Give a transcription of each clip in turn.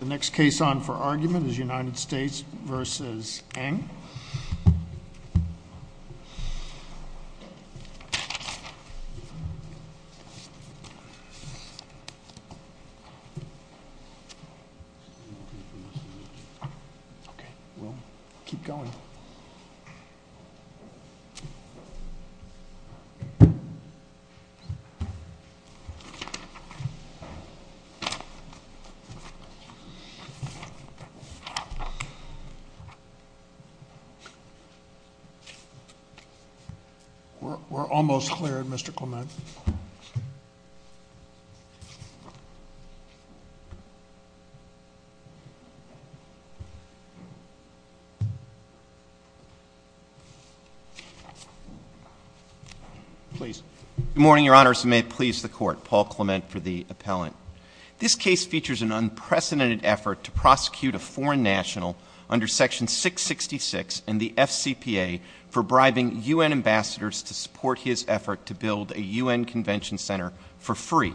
The next case on for argument is United States v. Eng. Okay, we'll keep going. We're almost clear, Mr. Clement. Please. Good morning, Your Honors, and may it please the Court, Paul Clement for the appellant. This case features an unprecedented effort to prosecute a foreign national under Section 666 and the FCPA for bribing U.N. ambassadors to support his effort to build a U.N. convention center for free.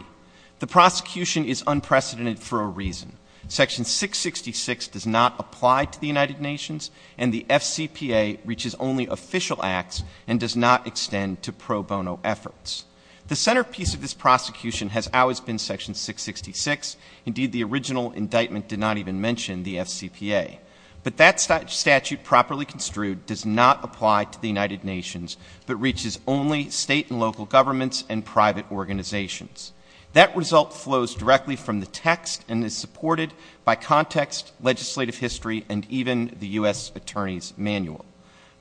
The prosecution is unprecedented for a reason. Section 666 does not apply to the United Nations, and the FCPA reaches only official acts and does not extend to pro bono efforts. The centerpiece of this prosecution has always been Section 666. Indeed, the original indictment did not even mention the FCPA. But that statute properly construed does not apply to the United Nations, but reaches only state and local governments and private organizations. That result flows directly from the text and is supported by context, legislative history, and even the U.S. Attorney's Manual.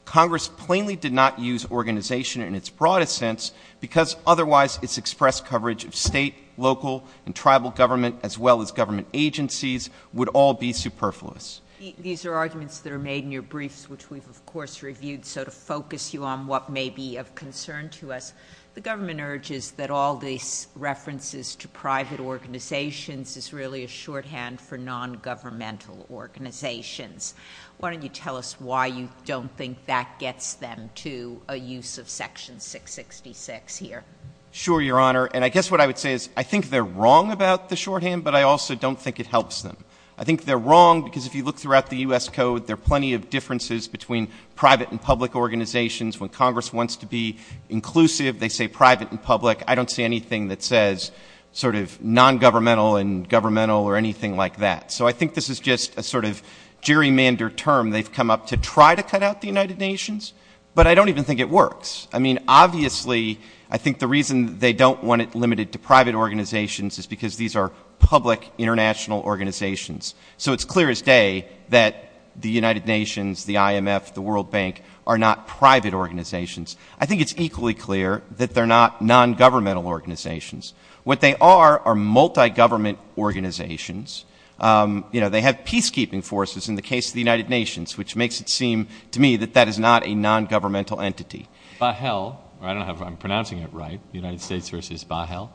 Congress plainly did not use organization in its broadest sense, because otherwise its express coverage of state, local, and tribal government, as well as government agencies, would all be superfluous. These are arguments that are made in your briefs, which we've, of course, reviewed. So to focus you on what may be of concern to us, the government urges that all these references to private organizations is really a shorthand for nongovernmental organizations. Why don't you tell us why you don't think that gets them to a use of Section 666 here? Sure, Your Honor. And I guess what I would say is I think they're wrong about the shorthand, but I also don't think it helps them. I think they're wrong because if you look throughout the U.S. Code, there are plenty of differences between private and public organizations. When Congress wants to be inclusive, they say private and public. I don't see anything that says sort of nongovernmental and governmental or anything like that. So I think this is just a sort of gerrymandered term. They've come up to try to cut out the United Nations, but I don't even think it works. I mean, obviously, I think the reason they don't want it limited to private organizations is because these are public international organizations. So it's clear as day that the United Nations, the IMF, the World Bank are not private organizations. I think it's equally clear that they're not nongovernmental organizations. What they are are multigovernment organizations. They have peacekeeping forces in the case of the United Nations, which makes it seem to me that that is not a nongovernmental entity. Bahel, or I don't know if I'm pronouncing it right, the United States v. Bahel,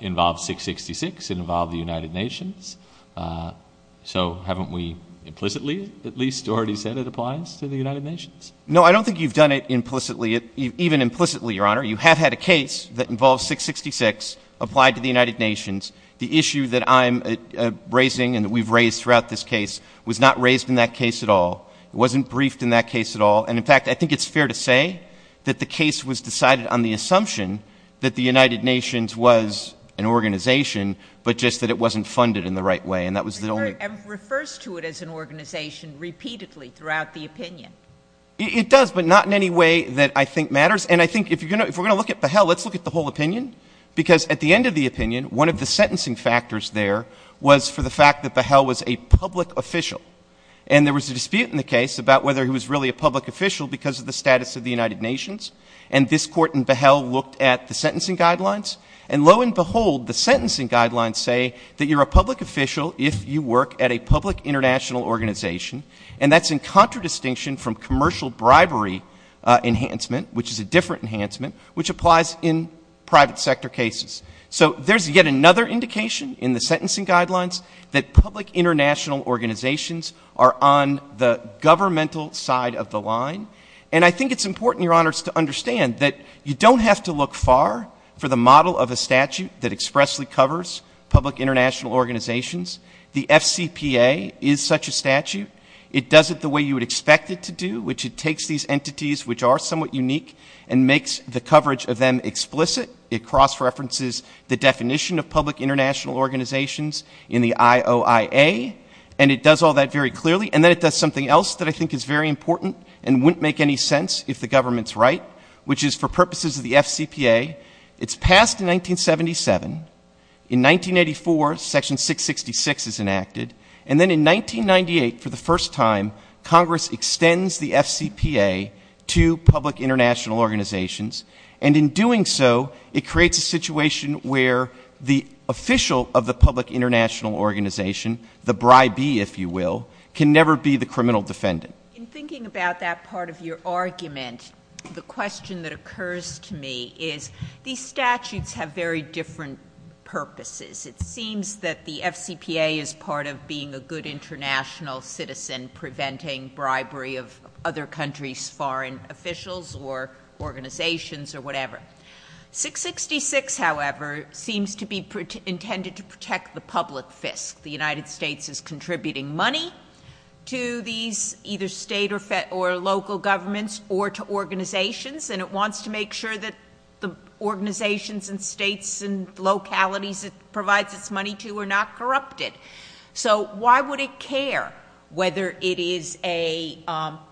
involves 666. It involved the United Nations. So haven't we implicitly at least already said it applies to the United Nations? No, I don't think you've done it implicitly. Even implicitly, Your Honor, you have had a case that involves 666, applied to the United Nations. The issue that I'm raising and that we've raised throughout this case was not raised in that case at all. It wasn't briefed in that case at all. And, in fact, I think it's fair to say that the case was decided on the assumption that the United Nations was an organization, but just that it wasn't funded in the right way. And that was the only ---- The IMF refers to it as an organization repeatedly throughout the opinion. It does, but not in any way that I think matters. And I think if we're going to look at Bahel, let's look at the whole opinion, because at the end of the opinion, one of the sentencing factors there was for the fact that Bahel was a public official. And there was a dispute in the case about whether he was really a public official because of the status of the United Nations. And this Court in Bahel looked at the sentencing guidelines. And, lo and behold, the sentencing guidelines say that you're a public official if you work at a public international organization. And that's in contradistinction from commercial bribery enhancement, which is a different enhancement, which applies in private sector cases. So there's yet another indication in the sentencing guidelines that public international organizations are on the governmental side of the line. And I think it's important, Your Honors, to understand that you don't have to look far for the model of a statute that expressly covers public international organizations. The FCPA is such a statute. It does it the way you would expect it to do, which it takes these entities, which are somewhat unique, and makes the coverage of them explicit. It cross-references the definition of public international organizations in the IOIA. And it does all that very clearly. And then it does something else that I think is very important and wouldn't make any sense if the government's right, which is for purposes of the FCPA, it's passed in 1977. In 1984, Section 666 is enacted. And then in 1998, for the first time, Congress extends the FCPA to public international organizations. And in doing so, it creates a situation where the official of the public international organization, the bribee, if you will, can never be the criminal defendant. In thinking about that part of your argument, the question that occurs to me is these statutes have very different purposes. It seems that the FCPA is part of being a good international citizen, preventing bribery of other countries' foreign officials or organizations or whatever. 666, however, seems to be intended to protect the public fisc. The United States is contributing money to these either state or local governments or to organizations, and it wants to make sure that the organizations and states and localities it provides its money to are not corrupted. So why would it care whether it is a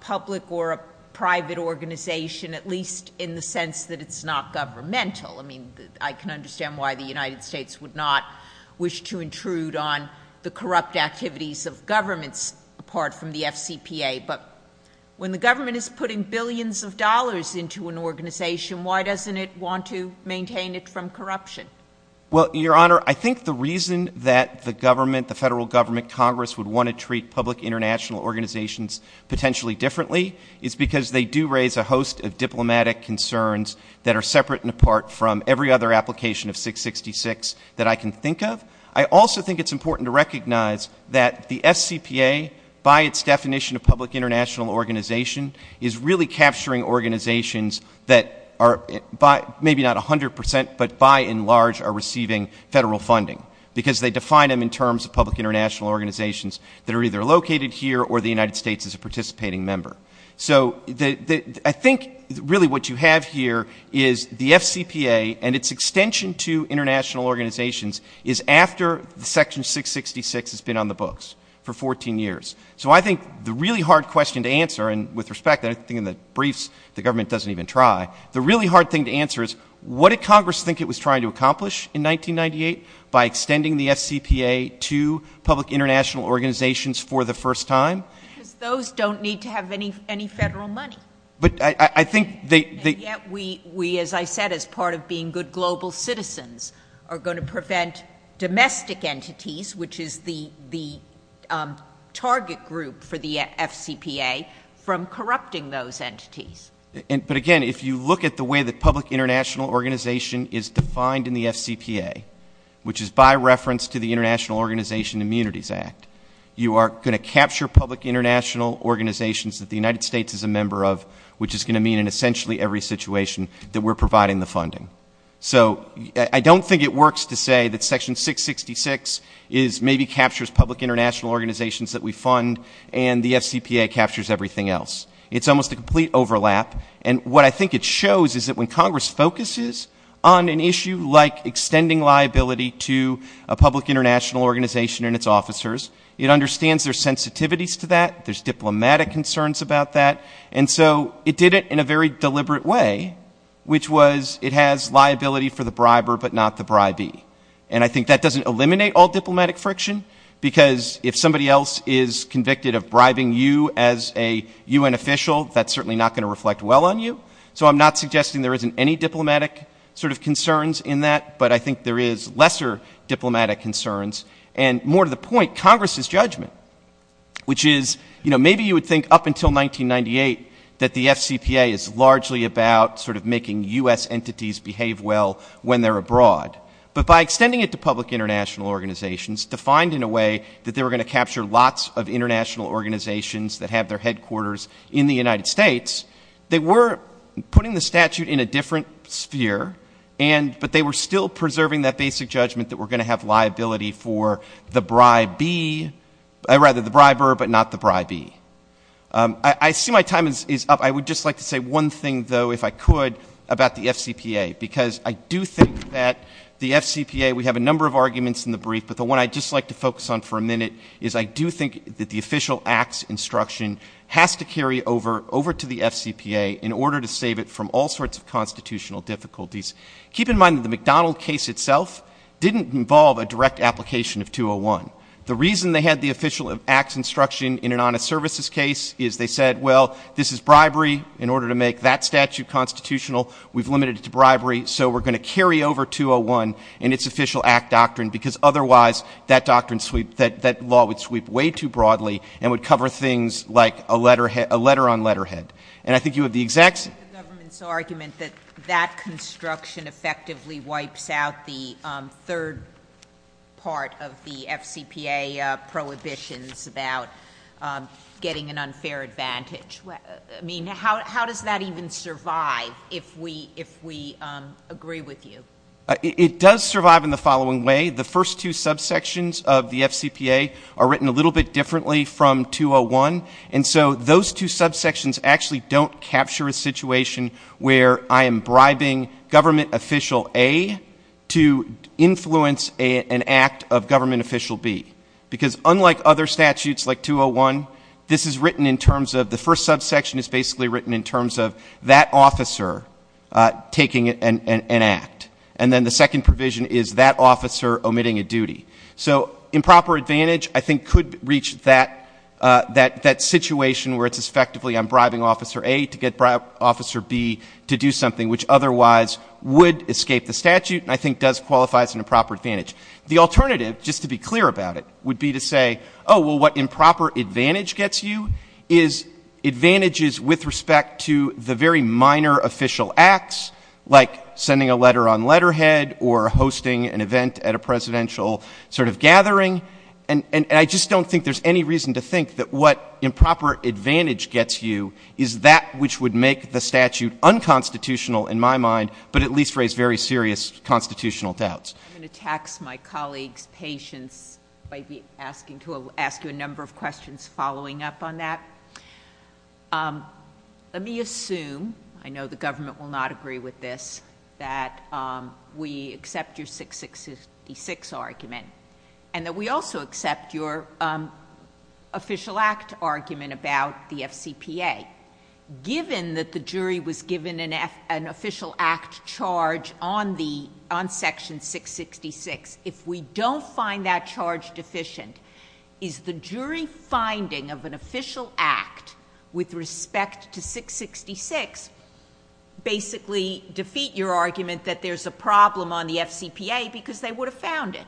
public or a private organization, at least in the sense that it's not governmental? I mean, I can understand why the United States would not wish to intrude on the corrupt activities of governments apart from the FCPA. But when the government is putting billions of dollars into an organization, why doesn't it want to maintain it from corruption? Well, Your Honor, I think the reason that the government, the federal government, Congress would want to treat public international organizations potentially differently is because they do raise a host of diplomatic concerns that are separate and apart from every other application of 666 that I can think of. I also think it's important to recognize that the FCPA, by its definition of public international organization, is really capturing organizations that are maybe not 100 percent, but by and large are receiving federal funding, because they define them in terms of public international organizations that are either located here or the United States is a participating member. So I think really what you have here is the FCPA and its extension to international organizations is after Section 666 has been on the books for 14 years. So I think the really hard question to answer, and with respect, I think in the briefs the government doesn't even try, the really hard thing to answer is what did Congress think it was trying to accomplish in 1998 by extending the FCPA to public international organizations for the first time? Because those don't need to have any federal money. And yet we, as I said, as part of being good global citizens, are going to prevent domestic entities, which is the target group for the FCPA, from corrupting those entities. But again, if you look at the way that public international organization is defined in the FCPA, which is by reference to the International Organization Immunities Act, you are going to capture public international organizations that the United States is a member of, which is going to mean in essentially every situation that we're providing the funding. So I don't think it works to say that Section 666 maybe captures public international organizations that we fund and the FCPA captures everything else. It's almost a complete overlap. And what I think it shows is that when Congress focuses on an issue like extending liability to a public international organization and its officers, it understands there's sensitivities to that, there's diplomatic concerns about that, and so it did it in a very deliberate way, which was it has liability for the briber but not the bribee. And I think that doesn't eliminate all diplomatic friction, because if somebody else is convicted of bribing you as a UN official, that's certainly not going to reflect well on you. So I'm not suggesting there isn't any diplomatic sort of concerns in that, but I think there is lesser diplomatic concerns. And more to the point, Congress's judgment, which is, you know, maybe you would think up until 1998 that the FCPA is largely about sort of making U.S. entities behave well when they're abroad. But by extending it to public international organizations, defined in a way that they were going to capture lots of international organizations that have their headquarters in the United States, they were putting the statute in a different sphere, but they were still preserving that basic judgment that we're going to have liability for the bribee, or rather the briber but not the bribee. I see my time is up. I would just like to say one thing, though, if I could, about the FCPA, because I do think that the FCPA, we have a number of arguments in the brief, but the one I'd just like to focus on for a minute is I do think that the official acts instruction has to carry over to the FCPA in order to save it from all sorts of constitutional difficulties. Keep in mind that the McDonald case itself didn't involve a direct application of 201. The reason they had the official acts instruction in an honest services case is they said, well, this is bribery. In order to make that statute constitutional, we've limited it to bribery, so we're going to carry over 201 in its official act doctrine, because otherwise that doctrine sweep, that law would sweep way too broadly and would cover things like a letterhead, a letter on letterhead. And I think you have the exact same. I support the government's argument that that construction effectively wipes out the third part of the FCPA prohibitions about getting an unfair advantage. I mean, how does that even survive if we agree with you? It does survive in the following way. The first two subsections of the FCPA are written a little bit differently from 201, and so those two subsections actually don't capture a situation where I am bribing government official A to influence an act of government official B, because unlike other statutes like 201, this is written in terms of, the first subsection is basically written in terms of that officer taking an act, and then the second provision is that officer omitting a duty. So improper advantage I think could reach that situation where it's effectively I'm bribing officer A to get officer B to do something which otherwise would escape the statute and I think does qualify as an improper advantage. The alternative, just to be clear about it, would be to say, oh, well, what improper advantage gets you is advantages with respect to the very minor official acts, like sending a letter on letterhead or hosting an event at a presidential sort of gathering, and I just don't think there's any reason to think that what improper advantage gets you is that which would make the statute unconstitutional in my mind, but at least raise very serious constitutional doubts. I'm going to tax my colleagues' patience by asking you a number of questions following up on that. Let me assume, I know the government will not agree with this, that we accept your 666 argument and that we also accept your official act argument about the FCPA. Given that the jury was given an official act charge on Section 666, if we don't find that charge deficient, is the jury finding of an official act with respect to 666 basically defeat your argument that there's a problem on the FCPA because they would have found it?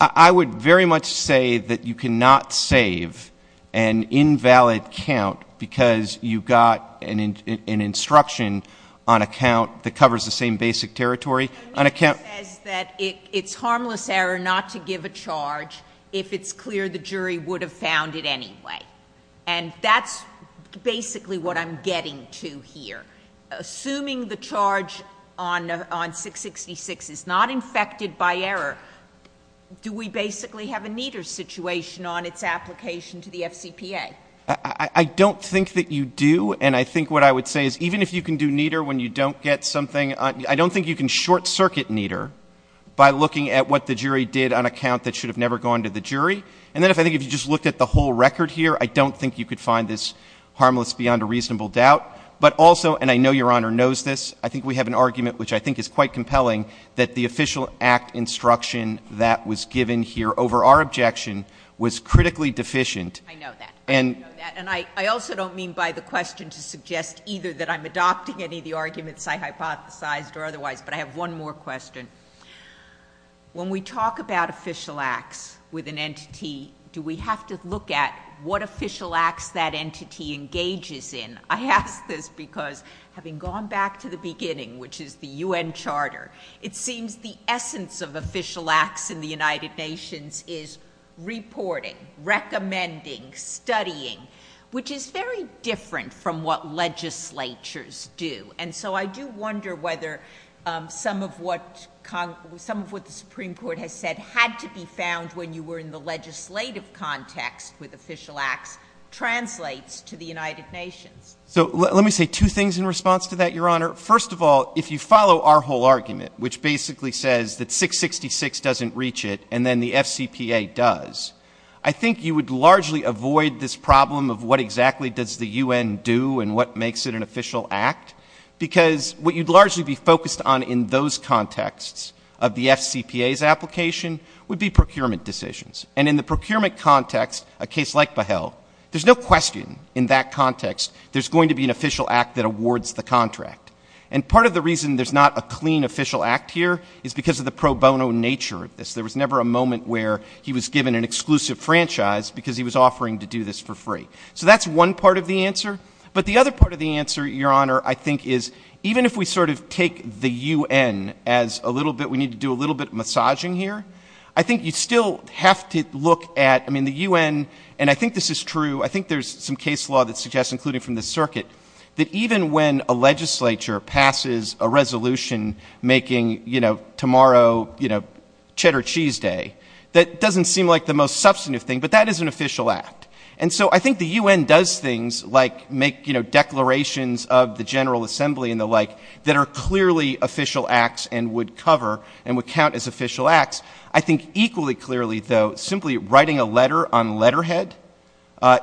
I would very much say that you cannot save an invalid count because you got an instruction on a count that covers the same basic territory. It says that it's harmless error not to give a charge if it's clear the jury would have found it anyway, and that's basically what I'm getting to here. Assuming the charge on 666 is not infected by error, do we basically have a neater situation on its application to the FCPA? I don't think that you do, and I think what I would say is even if you can do neater when you don't get something, I don't think you can short-circuit neater by looking at what the jury did on a count that should have never gone to the jury. And then I think if you just looked at the whole record here, I don't think you could find this harmless beyond a reasonable doubt. But also, and I know Your Honor knows this, I think we have an argument which I think is quite compelling that the official act instruction that was given here over our objection was critically deficient. I know that, and I also don't mean by the question to suggest either that I'm adopting any of the arguments I hypothesized or otherwise, but I have one more question. When we talk about official acts with an entity, do we have to look at what official acts that entity engages in? I ask this because having gone back to the beginning, which is the U.N. Charter, it seems the essence of official acts in the United Nations is reporting, recommending, studying, which is very different from what legislatures do. And so I do wonder whether some of what the Supreme Court has said had to be found when you were in the legislative context with official acts translates to the United Nations. So let me say two things in response to that, Your Honor. First of all, if you follow our whole argument, which basically says that 666 doesn't reach it and then the FCPA does, I think you would largely avoid this problem of what exactly does the U.N. do and what makes it an official act, because what you'd largely be focused on in those contexts of the FCPA's application would be procurement decisions. And in the procurement context, a case like Behel, there's no question in that context there's going to be an official act that awards the contract. And part of the reason there's not a clean official act here is because of the pro bono nature of this. There was never a moment where he was given an exclusive franchise because he was offering to do this for free. So that's one part of the answer. But the other part of the answer, Your Honor, I think is even if we sort of take the U.N. as a little bit we need to do a little bit of massaging here, I think you still have to look at, I mean, the U.N. and I think this is true, I think there's some case law that suggests, including from the circuit, that even when a legislature passes a resolution making, you know, tomorrow, you know, cheddar cheese day, that doesn't seem like the most substantive thing, but that is an official act. And so I think the U.N. does things like make, you know, declarations of the General Assembly and the like that are clearly official acts and would cover and would count as official acts. I think equally clearly, though, simply writing a letter on letterhead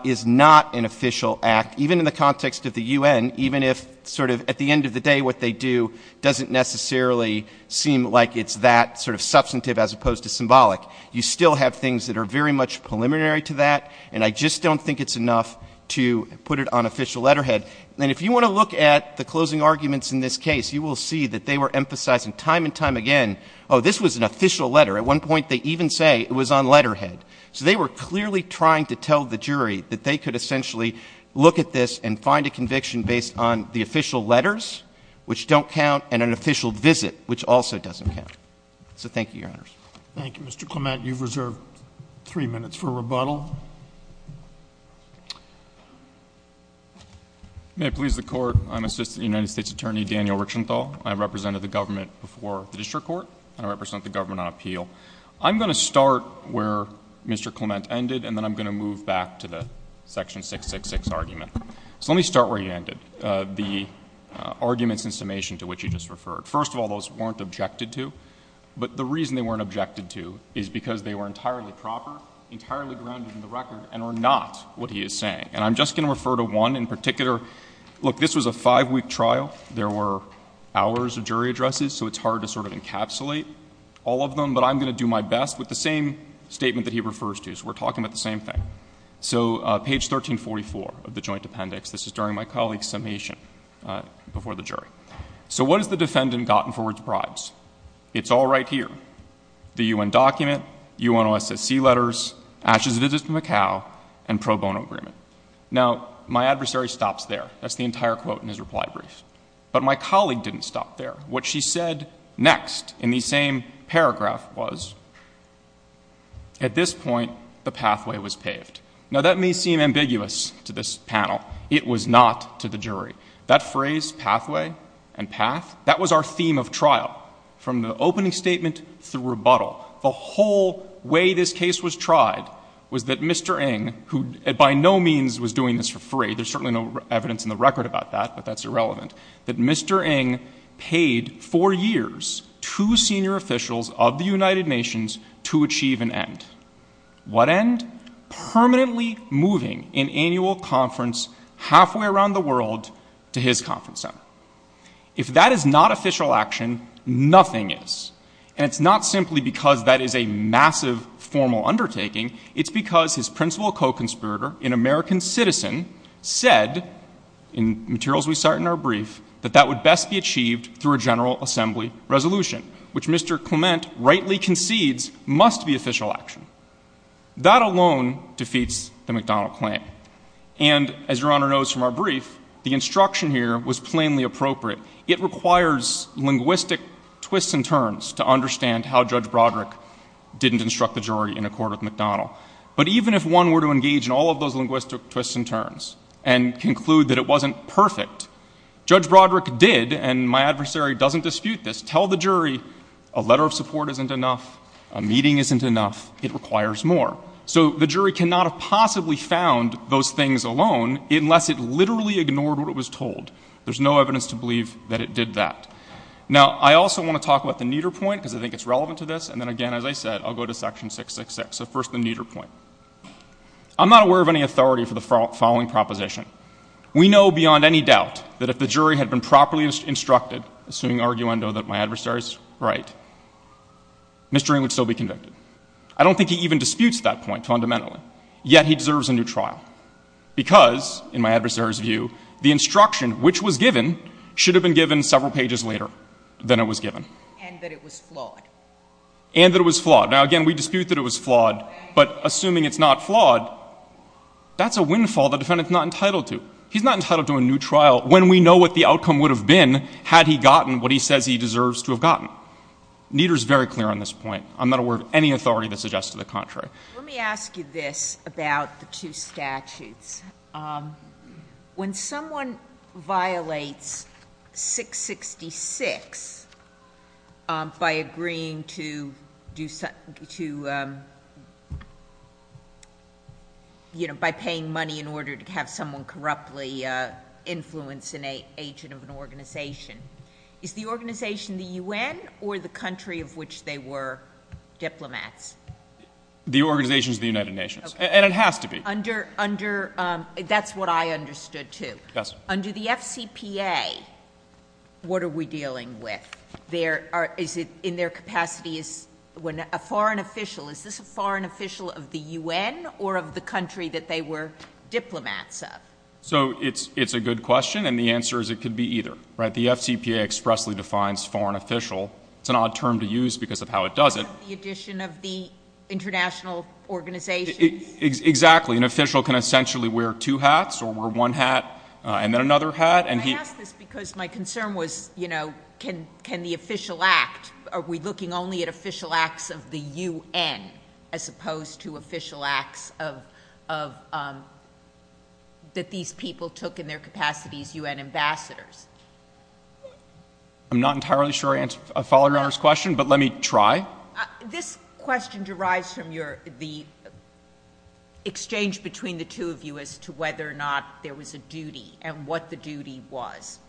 is not an official act, even in the context of the U.N., even if sort of at the end of the day what they do doesn't necessarily seem like it's that sort of substantive as opposed to symbolic. You still have things that are very much preliminary to that, and I just don't think it's enough to put it on official letterhead. And if you want to look at the closing arguments in this case, you will see that they were emphasizing time and time again, oh, this was an official letter. At one point they even say it was on letterhead. So they were clearly trying to tell the jury that they could essentially look at this and find a conviction based on the official letters, which don't count, and an official visit, which also doesn't count. So thank you, Your Honors. Thank you, Mr. Clement. You've reserved three minutes for rebuttal. May it please the Court, I'm Assistant United States Attorney Daniel Richenthal. I represented the government before the district court, and I represent the government on appeal. I'm going to start where Mr. Clement ended, and then I'm going to move back to the section 666 argument. So let me start where he ended, the arguments in summation to which he just referred. First of all, those weren't objected to. But the reason they weren't objected to is because they were entirely proper, entirely grounded in the record, and are not what he is saying. And I'm just going to refer to one in particular. Look, this was a five-week trial. There were hours of jury addresses, so it's hard to sort of encapsulate all of them. But I'm going to do my best with the same statement that he refers to. So we're talking about the same thing. So page 1344 of the joint appendix. This is during my colleague's summation before the jury. So what has the defendant gotten for its bribes? It's all right here. The U.N. document, UNOSSC letters, ashes of his visit to Macau, and pro bono agreement. Now, my adversary stops there. That's the entire quote in his reply brief. But my colleague didn't stop there. What she said next in the same paragraph was, at this point, the pathway was paved. Now, that may seem ambiguous to this panel. It was not to the jury. That phrase, pathway and path, that was our theme of trial from the opening statement through rebuttal. The whole way this case was tried was that Mr. Ng, who by no means was doing this for free, there's certainly no evidence in the record about that, but that's irrelevant, that Mr. Ng paid for years two senior officials of the United Nations to achieve an end. What end? Permanently moving an annual conference halfway around the world to his conference center. If that is not official action, nothing is. And it's not simply because that is a massive formal undertaking. It's because his principal co-conspirator, an American citizen, said, in materials we cite in our brief, that that would best be achieved through a general assembly resolution, which Mr. Clement rightly concedes must be official action. That alone defeats the McDonnell claim. And as Your Honor knows from our brief, the instruction here was plainly appropriate. It requires linguistic twists and turns to understand how Judge Broderick didn't instruct the jury in a court with McDonnell. But even if one were to engage in all of those linguistic twists and turns and conclude that it wasn't perfect, Judge Broderick did, and my adversary doesn't dispute this, tell the jury a letter of support isn't enough, a meeting isn't enough, it requires more. So the jury cannot have possibly found those things alone unless it literally ignored what it was told. There's no evidence to believe that it did that. Now, I also want to talk about the neater point, because I think it's relevant to this, and then again, as I said, I'll go to section 666. So first, the neater point. I'm not aware of any authority for the following proposition. We know beyond any doubt that if the jury had been properly instructed, assuming arguendo that my adversary is right, Mr. Ring would still be convicted. I don't think he even disputes that point fundamentally. Yet he deserves a new trial. Because, in my adversary's view, the instruction which was given should have been given several pages later than it was given. And that it was flawed. And that it was flawed. Now, again, we dispute that it was flawed, but assuming it's not flawed, that's a windfall the defendant's not entitled to. He's not entitled to a new trial when we know what the outcome would have been had he gotten what he says he deserves to have gotten. Neater is very clear on this point. I'm not aware of any authority that suggests to the contrary. Let me ask you this about the two statutes. When someone violates 666 by agreeing to do something to, you know, by paying money in order to have someone corruptly influence an agent of an organization, is the organization the U.N. or the country of which they were diplomats? The organization is the United Nations. And it has to be. That's what I understood, too. Yes. Under the FCPA, what are we dealing with? Is it in their capacity as a foreign official? Is this a foreign official of the U.N. or of the country that they were diplomats of? So it's a good question, and the answer is it could be either. The FCPA expressly defines foreign official. It's an odd term to use because of how it does it. The addition of the international organization. Exactly. An official can essentially wear two hats or wear one hat and then another hat. Can I ask this because my concern was, you know, can the official act, are we looking only at official acts of the U.N. as opposed to official acts of, that these people took in their capacities U.N. ambassadors? I'm not entirely sure I followed Your Honor's question, but let me try. Well, this question derives from the exchange between the two of you as to whether or not there was a duty and what the duty was.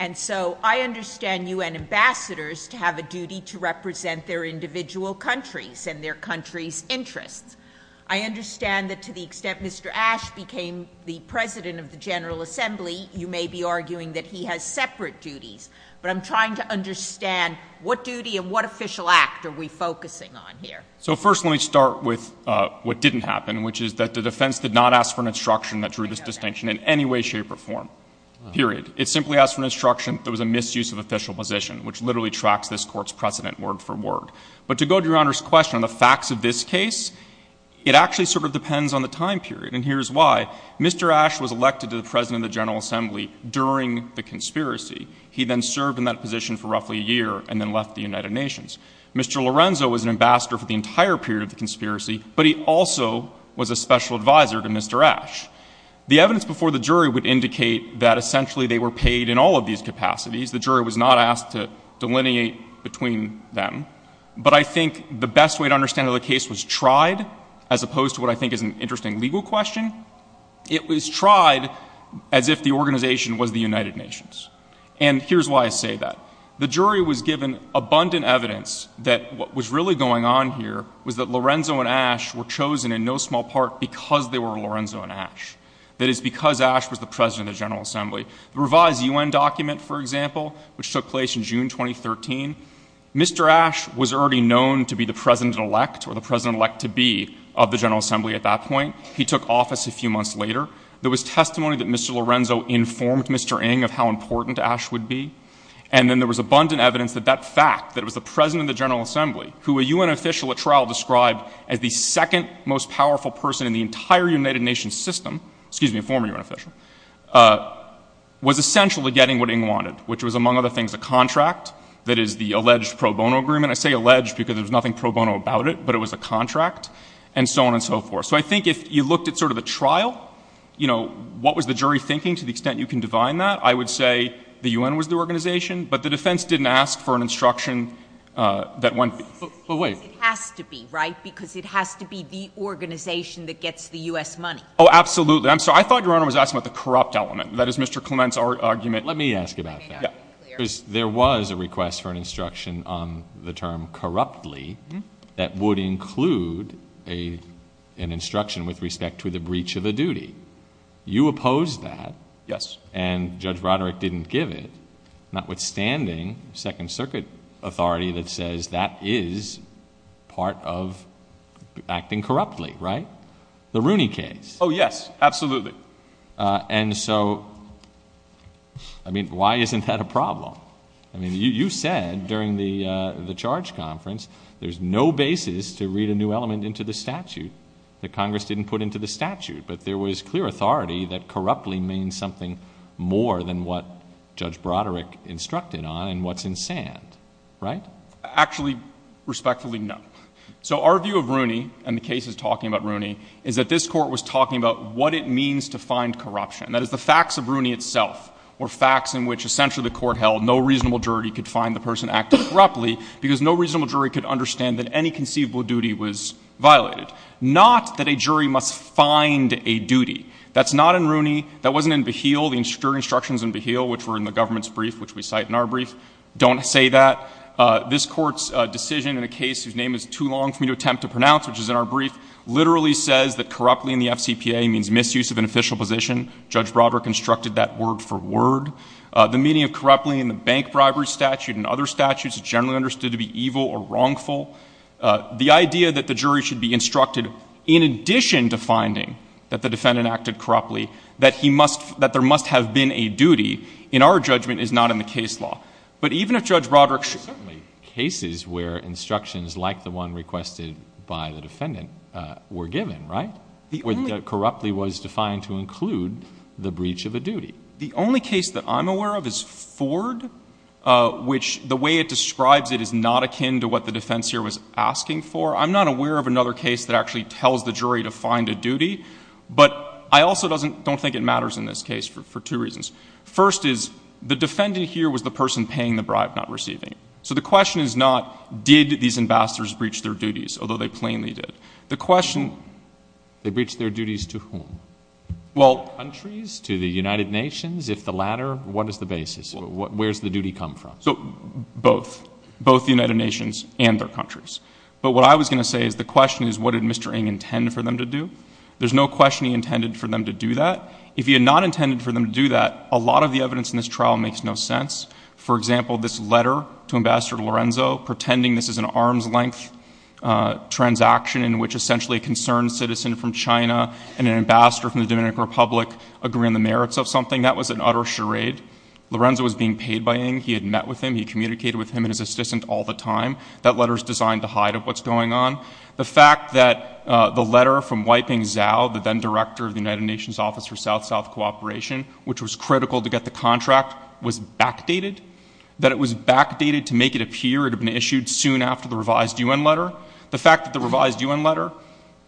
And so I understand U.N. ambassadors to have a duty to represent their individual countries and their countries' interests. I understand that to the extent Mr. Ash became the president of the General Assembly, you may be arguing that he has separate duties. But I'm trying to understand what duty and what official act are we focusing on here? So first let me start with what didn't happen, which is that the defense did not ask for an instruction that drew this distinction in any way, shape, or form. Period. It simply asked for an instruction that there was a misuse of official position, which literally tracks this Court's precedent word for word. But to go to Your Honor's question on the facts of this case, it actually sort of depends on the time period. And here's why. Mr. Ash was elected to the president of the General Assembly during the conspiracy. He then served in that position for roughly a year and then left the United Nations. Mr. Lorenzo was an ambassador for the entire period of the conspiracy, but he also was a special advisor to Mr. Ash. The evidence before the jury would indicate that essentially they were paid in all of these capacities. The jury was not asked to delineate between them. But I think the best way to understand how the case was tried, as opposed to what I think is an interesting legal question, it was tried as if the organization was the United Nations. And here's why I say that. The jury was given abundant evidence that what was really going on here was that Lorenzo and Ash were chosen in no small part because they were Lorenzo and Ash. That is, because Ash was the president of the General Assembly. The revised U.N. document, for example, which took place in June 2013, Mr. Ash was already known to be the president-elect or the president-elect-to-be of the General Assembly at that point. He took office a few months later. There was testimony that Mr. Lorenzo informed Mr. Ng of how important Ash would be. And then there was abundant evidence that that fact, that it was the president of the General Assembly, who a U.N. official at trial described as the second most powerful person in the entire United Nations system, excuse me, a former U.N. official, was essential to getting what Ng wanted, which was, among other things, a contract that is the alleged pro bono agreement. I say alleged because there's nothing pro bono about it, but it was a contract, and so on and so forth. So I think if you looked at sort of a trial, you know, what was the jury thinking to the extent you can divine that, I would say the U.N. was the organization, but the defense didn't ask for an instruction that went — But wait — It has to be, right? Because it has to be the organization that gets the U.S. money. Oh, absolutely. I'm sorry. I thought Your Honor was asking about the corrupt element. That is Mr. Clement's argument. Let me ask about that. Let me make that very clear. Because there was a request for an instruction on the term corruptly that would include an instruction with respect to the breach of a duty. You opposed that. Yes. And Judge Roderick didn't give it, notwithstanding Second Circuit authority that says that is part of acting corruptly, right? The Rooney case. Oh, yes. Absolutely. And so, I mean, why isn't that a problem? I mean, you said during the charge conference there's no basis to read a new element into the statute that Congress didn't put into the statute. But there was clear authority that corruptly means something more than what Judge Roderick instructed on and what's in sand, right? Actually, respectfully, no. So our view of Rooney, and the case is talking about Rooney, is that this court was talking about what it means to find corruption. That is the facts of Rooney itself were facts in which essentially the court held no reasonable jury could find the person acting corruptly because no reasonable jury could understand that any conceivable duty was violated. Not that a jury must find a duty. That's not in Rooney. That wasn't in Beheel. The instructions in Beheel, which were in the government's brief, which we cite in our brief, don't say that. This Court's decision in a case whose name is too long for me to attempt to pronounce, which is in our brief, literally says that corruptly in the FCPA means misuse of an official position. Judge Roderick instructed that word for word. The meaning of corruptly in the bank bribery statute and other statutes is generally understood to be evil or wrongful. The idea that the jury should be instructed in addition to finding that the defendant acted corruptly, that there must have been a duty, in our judgment, is not in the case law. But even if Judge Roderick should— There are certainly cases where instructions like the one requested by the defendant were given, right? The only— Where corruptly was defined to include the breach of a duty. The only case that I'm aware of is Ford, which the way it describes it is not akin to what the defense here was asking for. I'm not aware of another case that actually tells the jury to find a duty. But I also don't think it matters in this case for two reasons. First is the defendant here was the person paying the bribe, not receiving it. So the question is not did these ambassadors breach their duties, although they plainly did. The question— They breached their duties to whom? Well— Countries, to the United Nations, if the latter. What is the basis? Where does the duty come from? So both. Both the United Nations and their countries. But what I was going to say is the question is what did Mr. Ng intend for them to do? There's no question he intended for them to do that. If he had not intended for them to do that, a lot of the evidence in this trial makes no sense. For example, this letter to Ambassador Lorenzo pretending this is an arm's length transaction in which essentially a concerned citizen from China and an ambassador from the Dominican Republic agree on the merits of something, that was an utter charade. Lorenzo was being paid by Ng. He had met with him. He communicated with him and his assistant all the time. That letter is designed to hide what's going on. The fact that the letter from Weiping Zhao, the then-director of the United Nations Office for South-South Cooperation, which was critical to get the contract, was backdated, that it was backdated to make it appear it had been issued soon after the revised U.N. letter, the fact that the revised U.N. letter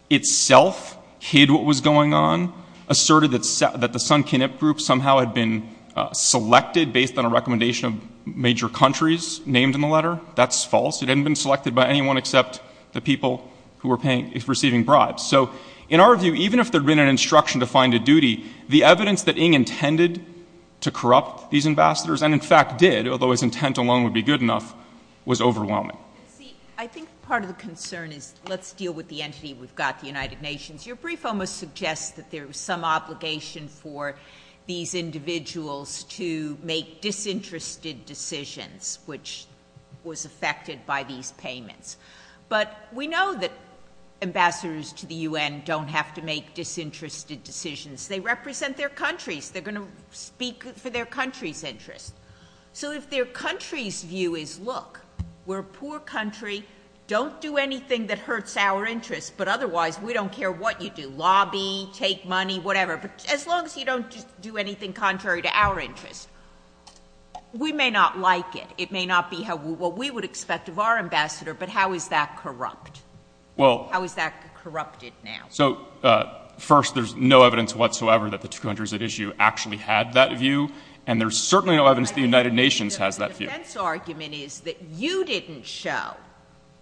itself hid what was going on, asserted that the Sun-Kinip group somehow had been selected based on a recommendation of major countries named in the letter, that's false. It hadn't been selected by anyone except the people who were receiving bribes. So in our view, even if there had been an instruction to find a duty, the evidence that Ng intended to corrupt these ambassadors, and in fact did, although his intent alone would be good enough, was overwhelming. See, I think part of the concern is let's deal with the entity we've got, the United Nations. Your brief almost suggests that there was some obligation for these individuals to make disinterested decisions, which was affected by these payments. But we know that ambassadors to the U.N. don't have to make disinterested decisions. They represent their countries. They're going to speak for their country's interests. So if their country's view is, look, we're a poor country, don't do anything that hurts our interests, but otherwise we don't care what you do, lobby, take money, whatever, as long as you don't do anything contrary to our interests, we may not like it. It may not be what we would expect of our ambassador, but how is that corrupt? How is that corrupted now? First, there's no evidence whatsoever that the two countries at issue actually had that view, and there's certainly no evidence the United Nations has that view. The defense argument is that you didn't show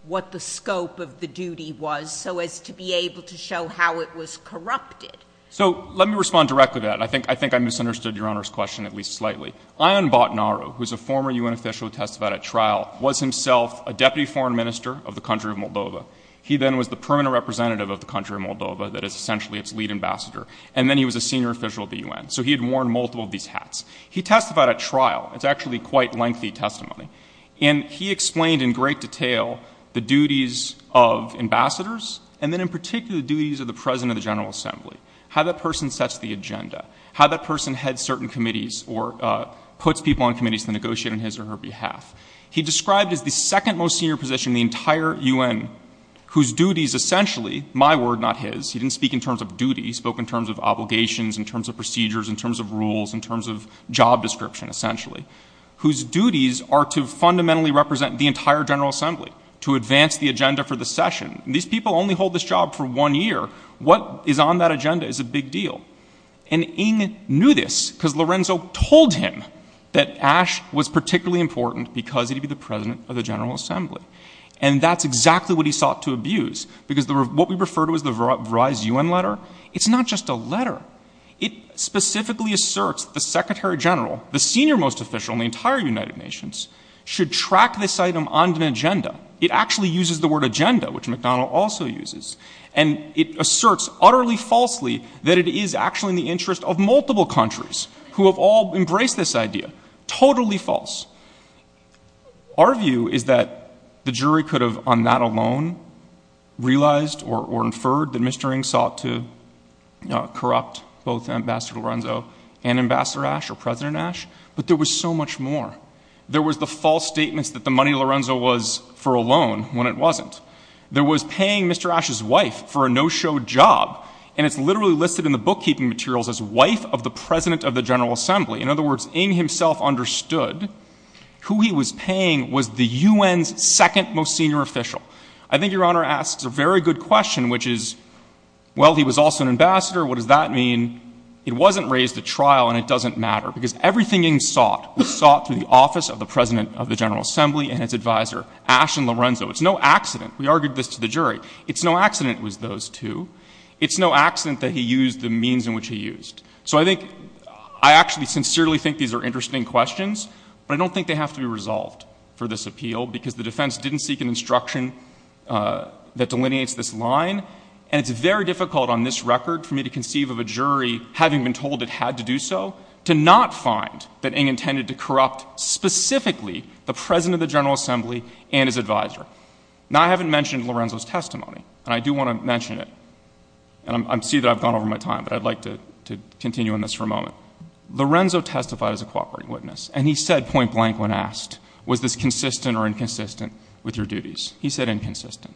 what the scope of the duty was so as to be able to show how it was corrupted. So let me respond directly to that. I think I misunderstood Your Honor's question at least slightly. Ayan Bhatnaru, who is a former U.N. official who testified at trial, was himself a deputy foreign minister of the country of Moldova. He then was the permanent representative of the country of Moldova that is essentially its lead ambassador, and then he was a senior official at the U.N. So he had worn multiple of these hats. He testified at trial. It's actually quite lengthy testimony. And he explained in great detail the duties of ambassadors and then in particular the duties of the president of the General Assembly, how that person sets the agenda, how that person heads certain committees or puts people on committees to negotiate on his or her behalf. He described as the second most senior position in the entire U.N. whose duties essentially, my word not his, he didn't speak in terms of duties, he spoke in terms of obligations, in terms of procedures, in terms of rules, in terms of job description essentially, whose duties are to fundamentally represent the entire General Assembly, to advance the agenda for the session. These people only hold this job for one year. What is on that agenda is a big deal. And Ng knew this because Lorenzo told him that Ash was particularly important because he would be the president of the General Assembly. And that's exactly what he sought to abuse because what we refer to as the Verizon U.N. letter, it's not just a letter. It specifically asserts that the Secretary General, the senior most official in the entire United Nations, should track this item on an agenda. It actually uses the word agenda, which McDonnell also uses. And it asserts utterly falsely that it is actually in the interest of multiple countries who have all embraced this idea. Totally false. Our view is that the jury could have, on that alone, realized or inferred that Mr. Ng sought to corrupt both Ambassador Lorenzo and Ambassador Ash or President Ash. But there was so much more. There was the false statements that the money Lorenzo was for a loan when it wasn't. There was paying Mr. Ash's wife for a no-show job. And it's literally listed in the bookkeeping materials as wife of the President of the General Assembly. In other words, Ng himself understood who he was paying was the U.N.'s second most senior official. I think Your Honor asks a very good question, which is, well, he was also an ambassador. What does that mean? It wasn't raised at trial, and it doesn't matter because everything Ng sought was sought through the office of the President of the General Assembly and its advisor, Ash and Lorenzo. It's no accident. We argued this to the jury. It's no accident it was those two. It's no accident that he used the means in which he used. So I think I actually sincerely think these are interesting questions, but I don't think they have to be resolved for this appeal because the defense didn't seek an instruction that delineates this line. And it's very difficult on this record for me to conceive of a jury, having been told it had to do so, to not find that Ng intended to corrupt specifically the President of the General Assembly and his advisor. Now, I haven't mentioned Lorenzo's testimony, and I do want to mention it. And I see that I've gone over my time, but I'd like to continue on this for a moment. Lorenzo testified as a cooperating witness, and he said point blank when asked, was this consistent or inconsistent with your duties? He said inconsistent.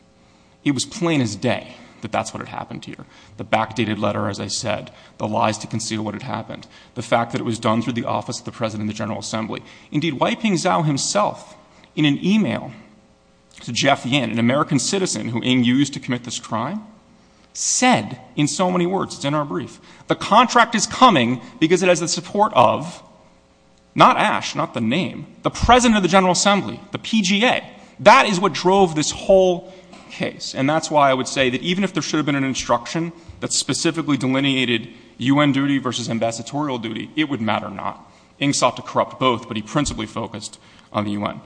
It was plain as day that that's what had happened to you. The backdated letter, as I said, the lies to conceal what had happened, the fact that it was done through the office of the President of the General Assembly. Indeed, Wai Ping Tsao himself, in an e-mail to Jeff Yin, an American citizen who Ng used to commit this crime, said in so many words, it's in our brief, the contract is coming because it has the support of, not Ash, not the name, the President of the General Assembly, the PGA. That is what drove this whole case. And that's why I would say that even if there should have been an instruction that specifically delineated UN duty versus ambassadorial duty, it would matter not. Ng sought to corrupt both, but he principally focused on the UN.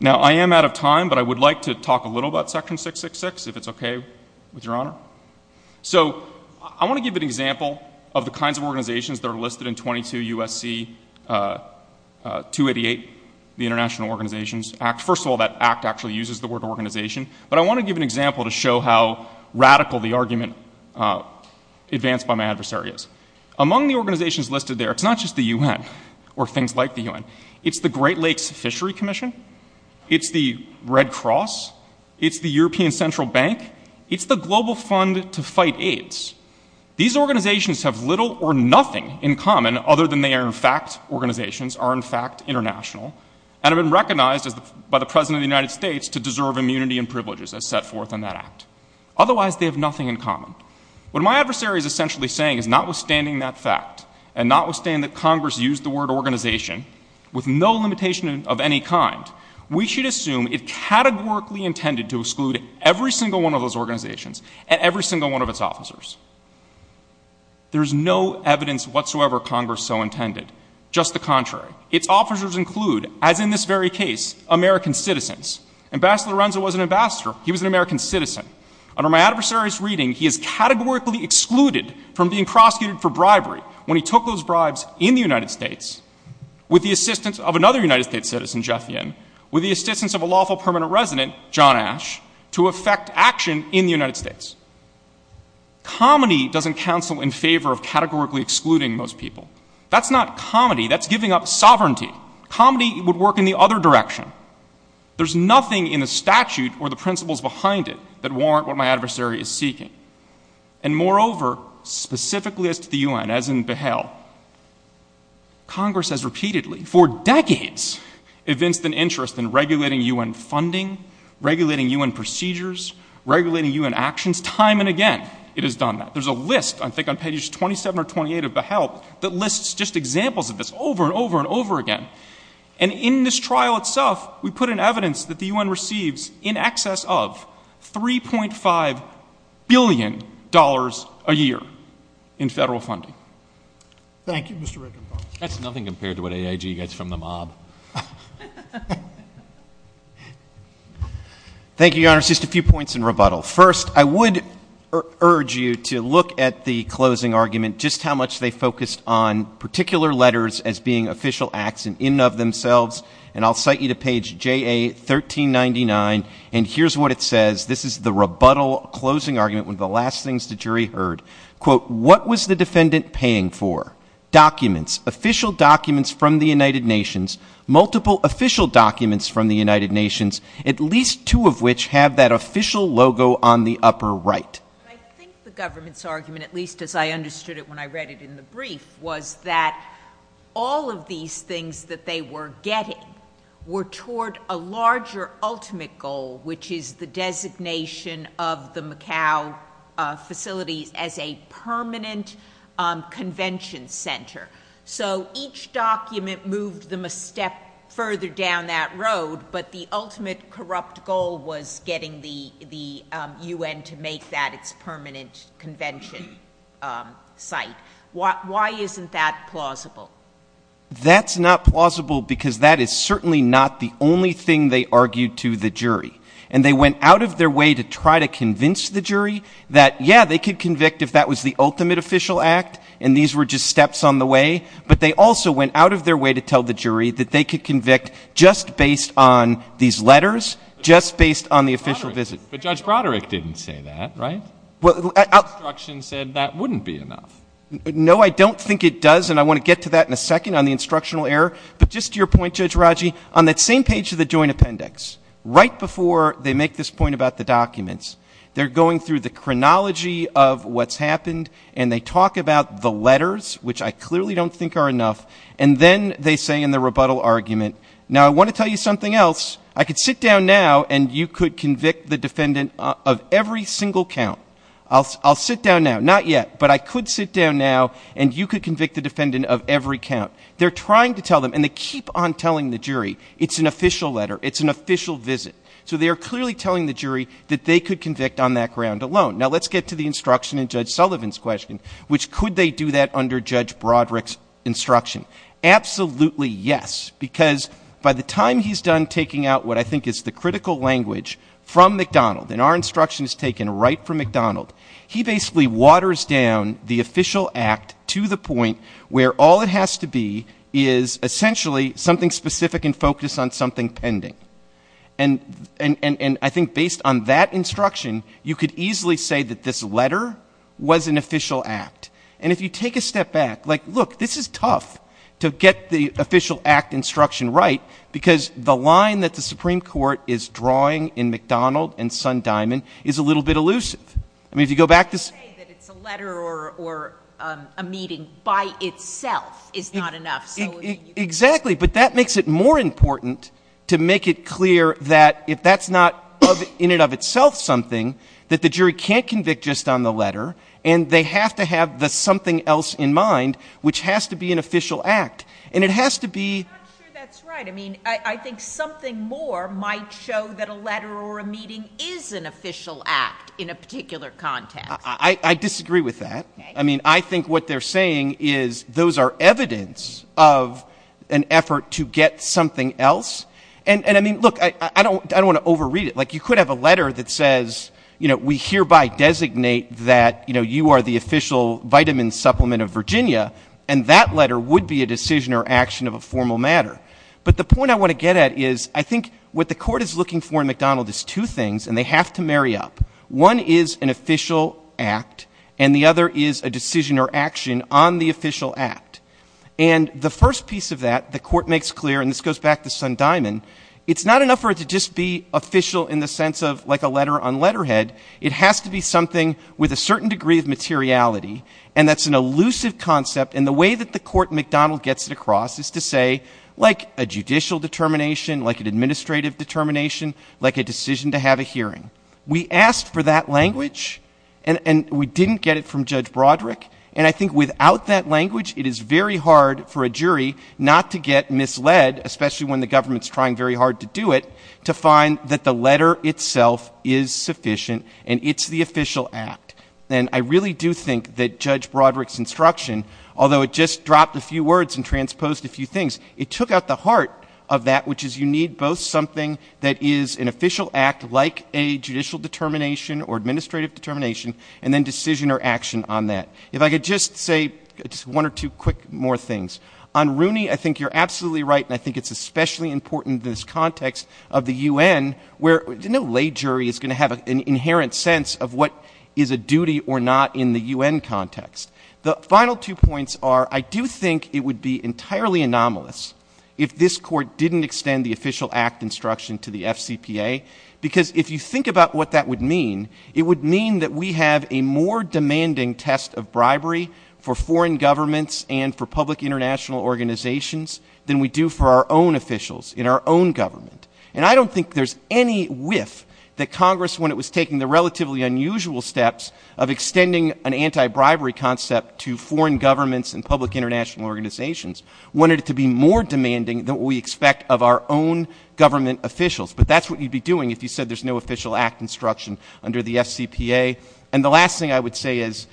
Now, I am out of time, but I would like to talk a little about Section 666, if it's okay with Your Honor. So I want to give an example of the kinds of organizations that are listed in 22 U.S.C. 288, the International Organizations Act. First of all, that Act actually uses the word organization, but I want to give an example to show how radical the argument advanced by my adversary is. Among the organizations listed there, it's not just the UN or things like the UN. It's the Great Lakes Fishery Commission. It's the Red Cross. It's the European Central Bank. It's the Global Fund to Fight AIDS. These organizations have little or nothing in common, other than they are in fact organizations, are in fact international, and have been recognized by the President of the United States to deserve immunity and privileges as set forth in that Act. Otherwise, they have nothing in common. What my adversary is essentially saying is notwithstanding that fact and notwithstanding that Congress used the word organization with no limitation of any kind, we should assume it categorically intended to exclude every single one of those organizations and every single one of its officers. There is no evidence whatsoever Congress so intended. Just the contrary. Its officers include, as in this very case, American citizens. Ambassador Lorenzo was an ambassador. He was an American citizen. Under my adversary's reading, he is categorically excluded from being prosecuted for bribery when he took those bribes in the United States with the assistance of another United States citizen, Jeff Yin, with the assistance of a lawful permanent resident, John Ash, to effect action in the United States. Comedy doesn't counsel in favor of categorically excluding most people. That's not comedy. That's giving up sovereignty. Comedy would work in the other direction. There's nothing in the statute or the principles behind it that warrant what my adversary is seeking. And moreover, specifically as to the U.N., as in Behel, Congress has repeatedly, for decades, evinced an interest in regulating U.N. funding, regulating U.N. procedures, regulating U.N. actions. Time and again it has done that. There's a list, I think on pages 27 or 28 of Behel, that lists just examples of this over and over and over again. And in this trial itself, we put in evidence that the U.N. receives in excess of $3.5 billion a year in federal funding. Thank you. Mr. Rickenbacker. That's nothing compared to what AIG gets from the mob. Thank you, Your Honor. Just a few points in rebuttal. First, I would urge you to look at the closing argument, just how much they focused on particular letters as being official acts in and of themselves. And I'll cite you to page JA-1399. And here's what it says. This is the rebuttal closing argument, one of the last things the jury heard. Quote, what was the defendant paying for? Documents, official documents from the United Nations, multiple official documents from the United Nations, at least two of which have that official logo on the upper right. I think the government's argument, at least as I understood it when I read it in the brief, was that all of these things that they were getting were toward a larger ultimate goal, which is the designation of the Macau facilities as a permanent convention center. So each document moved them a step further down that road, but the ultimate corrupt goal was getting the U.N. to make that its permanent convention site. Why isn't that plausible? That's not plausible because that is certainly not the only thing they argued to the jury. And they went out of their way to try to convince the jury that, yeah, they could convict if that was the ultimate official act and these were just steps on the way, but they also went out of their way to tell the jury that they could convict just based on these letters, just based on the official visit. But Judge Broderick didn't say that, right? The instruction said that wouldn't be enough. No, I don't think it does, and I want to get to that in a second on the instructional error. But just to your point, Judge Raji, on that same page of the joint appendix, right before they make this point about the documents, they're going through the chronology of what's happened and they talk about the letters, which I clearly don't think are enough, and then they say in the rebuttal argument, now I want to tell you something else. I could sit down now and you could convict the defendant of every single count. I'll sit down now. Not yet, but I could sit down now and you could convict the defendant of every count. They're trying to tell them, and they keep on telling the jury it's an official letter, it's an official visit. So they are clearly telling the jury that they could convict on that ground alone. Now, let's get to the instruction in Judge Sullivan's question, which could they do that under Judge Broderick's instruction? Absolutely yes, because by the time he's done taking out what I think is the critical language from McDonald, and our instruction is taken right from McDonald, he basically waters down the official act to the point where all it has to be is essentially something specific and focused on something pending. And I think based on that instruction, you could easily say that this letter was an official act. And if you take a step back, like, look, this is tough to get the official act instruction right, because the line that the Supreme Court is drawing in McDonald and Sundiamond is a little bit elusive. I mean, if you go back to – You can't say that it's a letter or a meeting by itself is not enough. Exactly. But that makes it more important to make it clear that if that's not in and of itself something, that the jury can't convict just on the letter, and they have to have the something else in mind, which has to be an official act. And it has to be – I'm not sure that's right. I mean, I think something more might show that a letter or a meeting is an official act in a particular context. I disagree with that. I mean, I think what they're saying is those are evidence of an effort to get something else. And, I mean, look, I don't want to overread it. Like, you could have a letter that says, you know, we hereby designate that, you know, you are the official vitamin supplement of Virginia, and that letter would be a decision or action of a formal matter. But the point I want to get at is I think what the court is looking for in McDonald is two things, and they have to marry up. One is an official act, and the other is a decision or action on the official act. And the first piece of that the court makes clear, and this goes back to Sundyman, it's not enough for it to just be official in the sense of like a letter on letterhead. It has to be something with a certain degree of materiality, and that's an elusive concept, and the way that the court at McDonald gets it across is to say, like a judicial determination, like an administrative determination, like a decision to have a hearing. We asked for that language, and we didn't get it from Judge Broderick. And I think without that language, it is very hard for a jury not to get misled, especially when the government is trying very hard to do it, to find that the letter itself is sufficient and it's the official act. And I really do think that Judge Broderick's instruction, although it just dropped a few words and transposed a few things, it took out the heart of that, which is you need both something that is an official act, like a judicial determination or administrative determination, and then decision or action on that. If I could just say one or two quick more things. On Rooney, I think you're absolutely right, and I think it's especially important in this context of the U.N., where no lay jury is going to have an inherent sense of what is a duty or not in the U.N. context. The final two points are I do think it would be entirely anomalous if this Court didn't extend the official act instruction to the FCPA, because if you think about what that would mean, it would mean that we have a more demanding test of bribery for foreign governments and for public international organizations than we do for our own officials in our own government. And I don't think there's any whiff that Congress, when it was taking the relatively unusual steps of extending an anti-bribery concept to foreign governments and public international organizations, wanted it to be more demanding than what we expect of our own government officials. But that's what you'd be doing if you said there's no official act instruction under the FCPA. And the last thing I would say is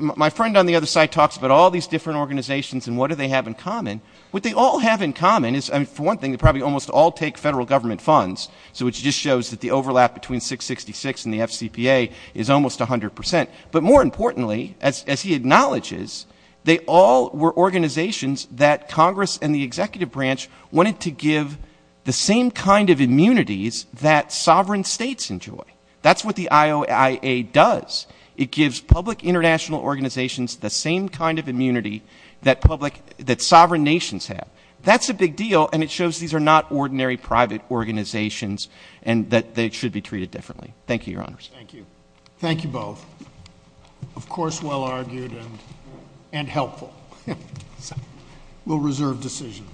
my friend on the other side talks about all these different organizations and what do they have in common. What they all have in common is, for one thing, they probably almost all take federal government funds, so it just shows that the overlap between 666 and the FCPA is almost 100 percent. But more importantly, as he acknowledges, they all were organizations that Congress and the executive branch wanted to give the same kind of immunities that sovereign states enjoy. That's what the IOIA does. It gives public international organizations the same kind of immunity that sovereign nations have. That's a big deal, and it shows these are not ordinary private organizations and that they should be treated differently. Thank you, Your Honors. Thank you. Thank you both. Of course, well-argued and helpful. We'll reserve decision.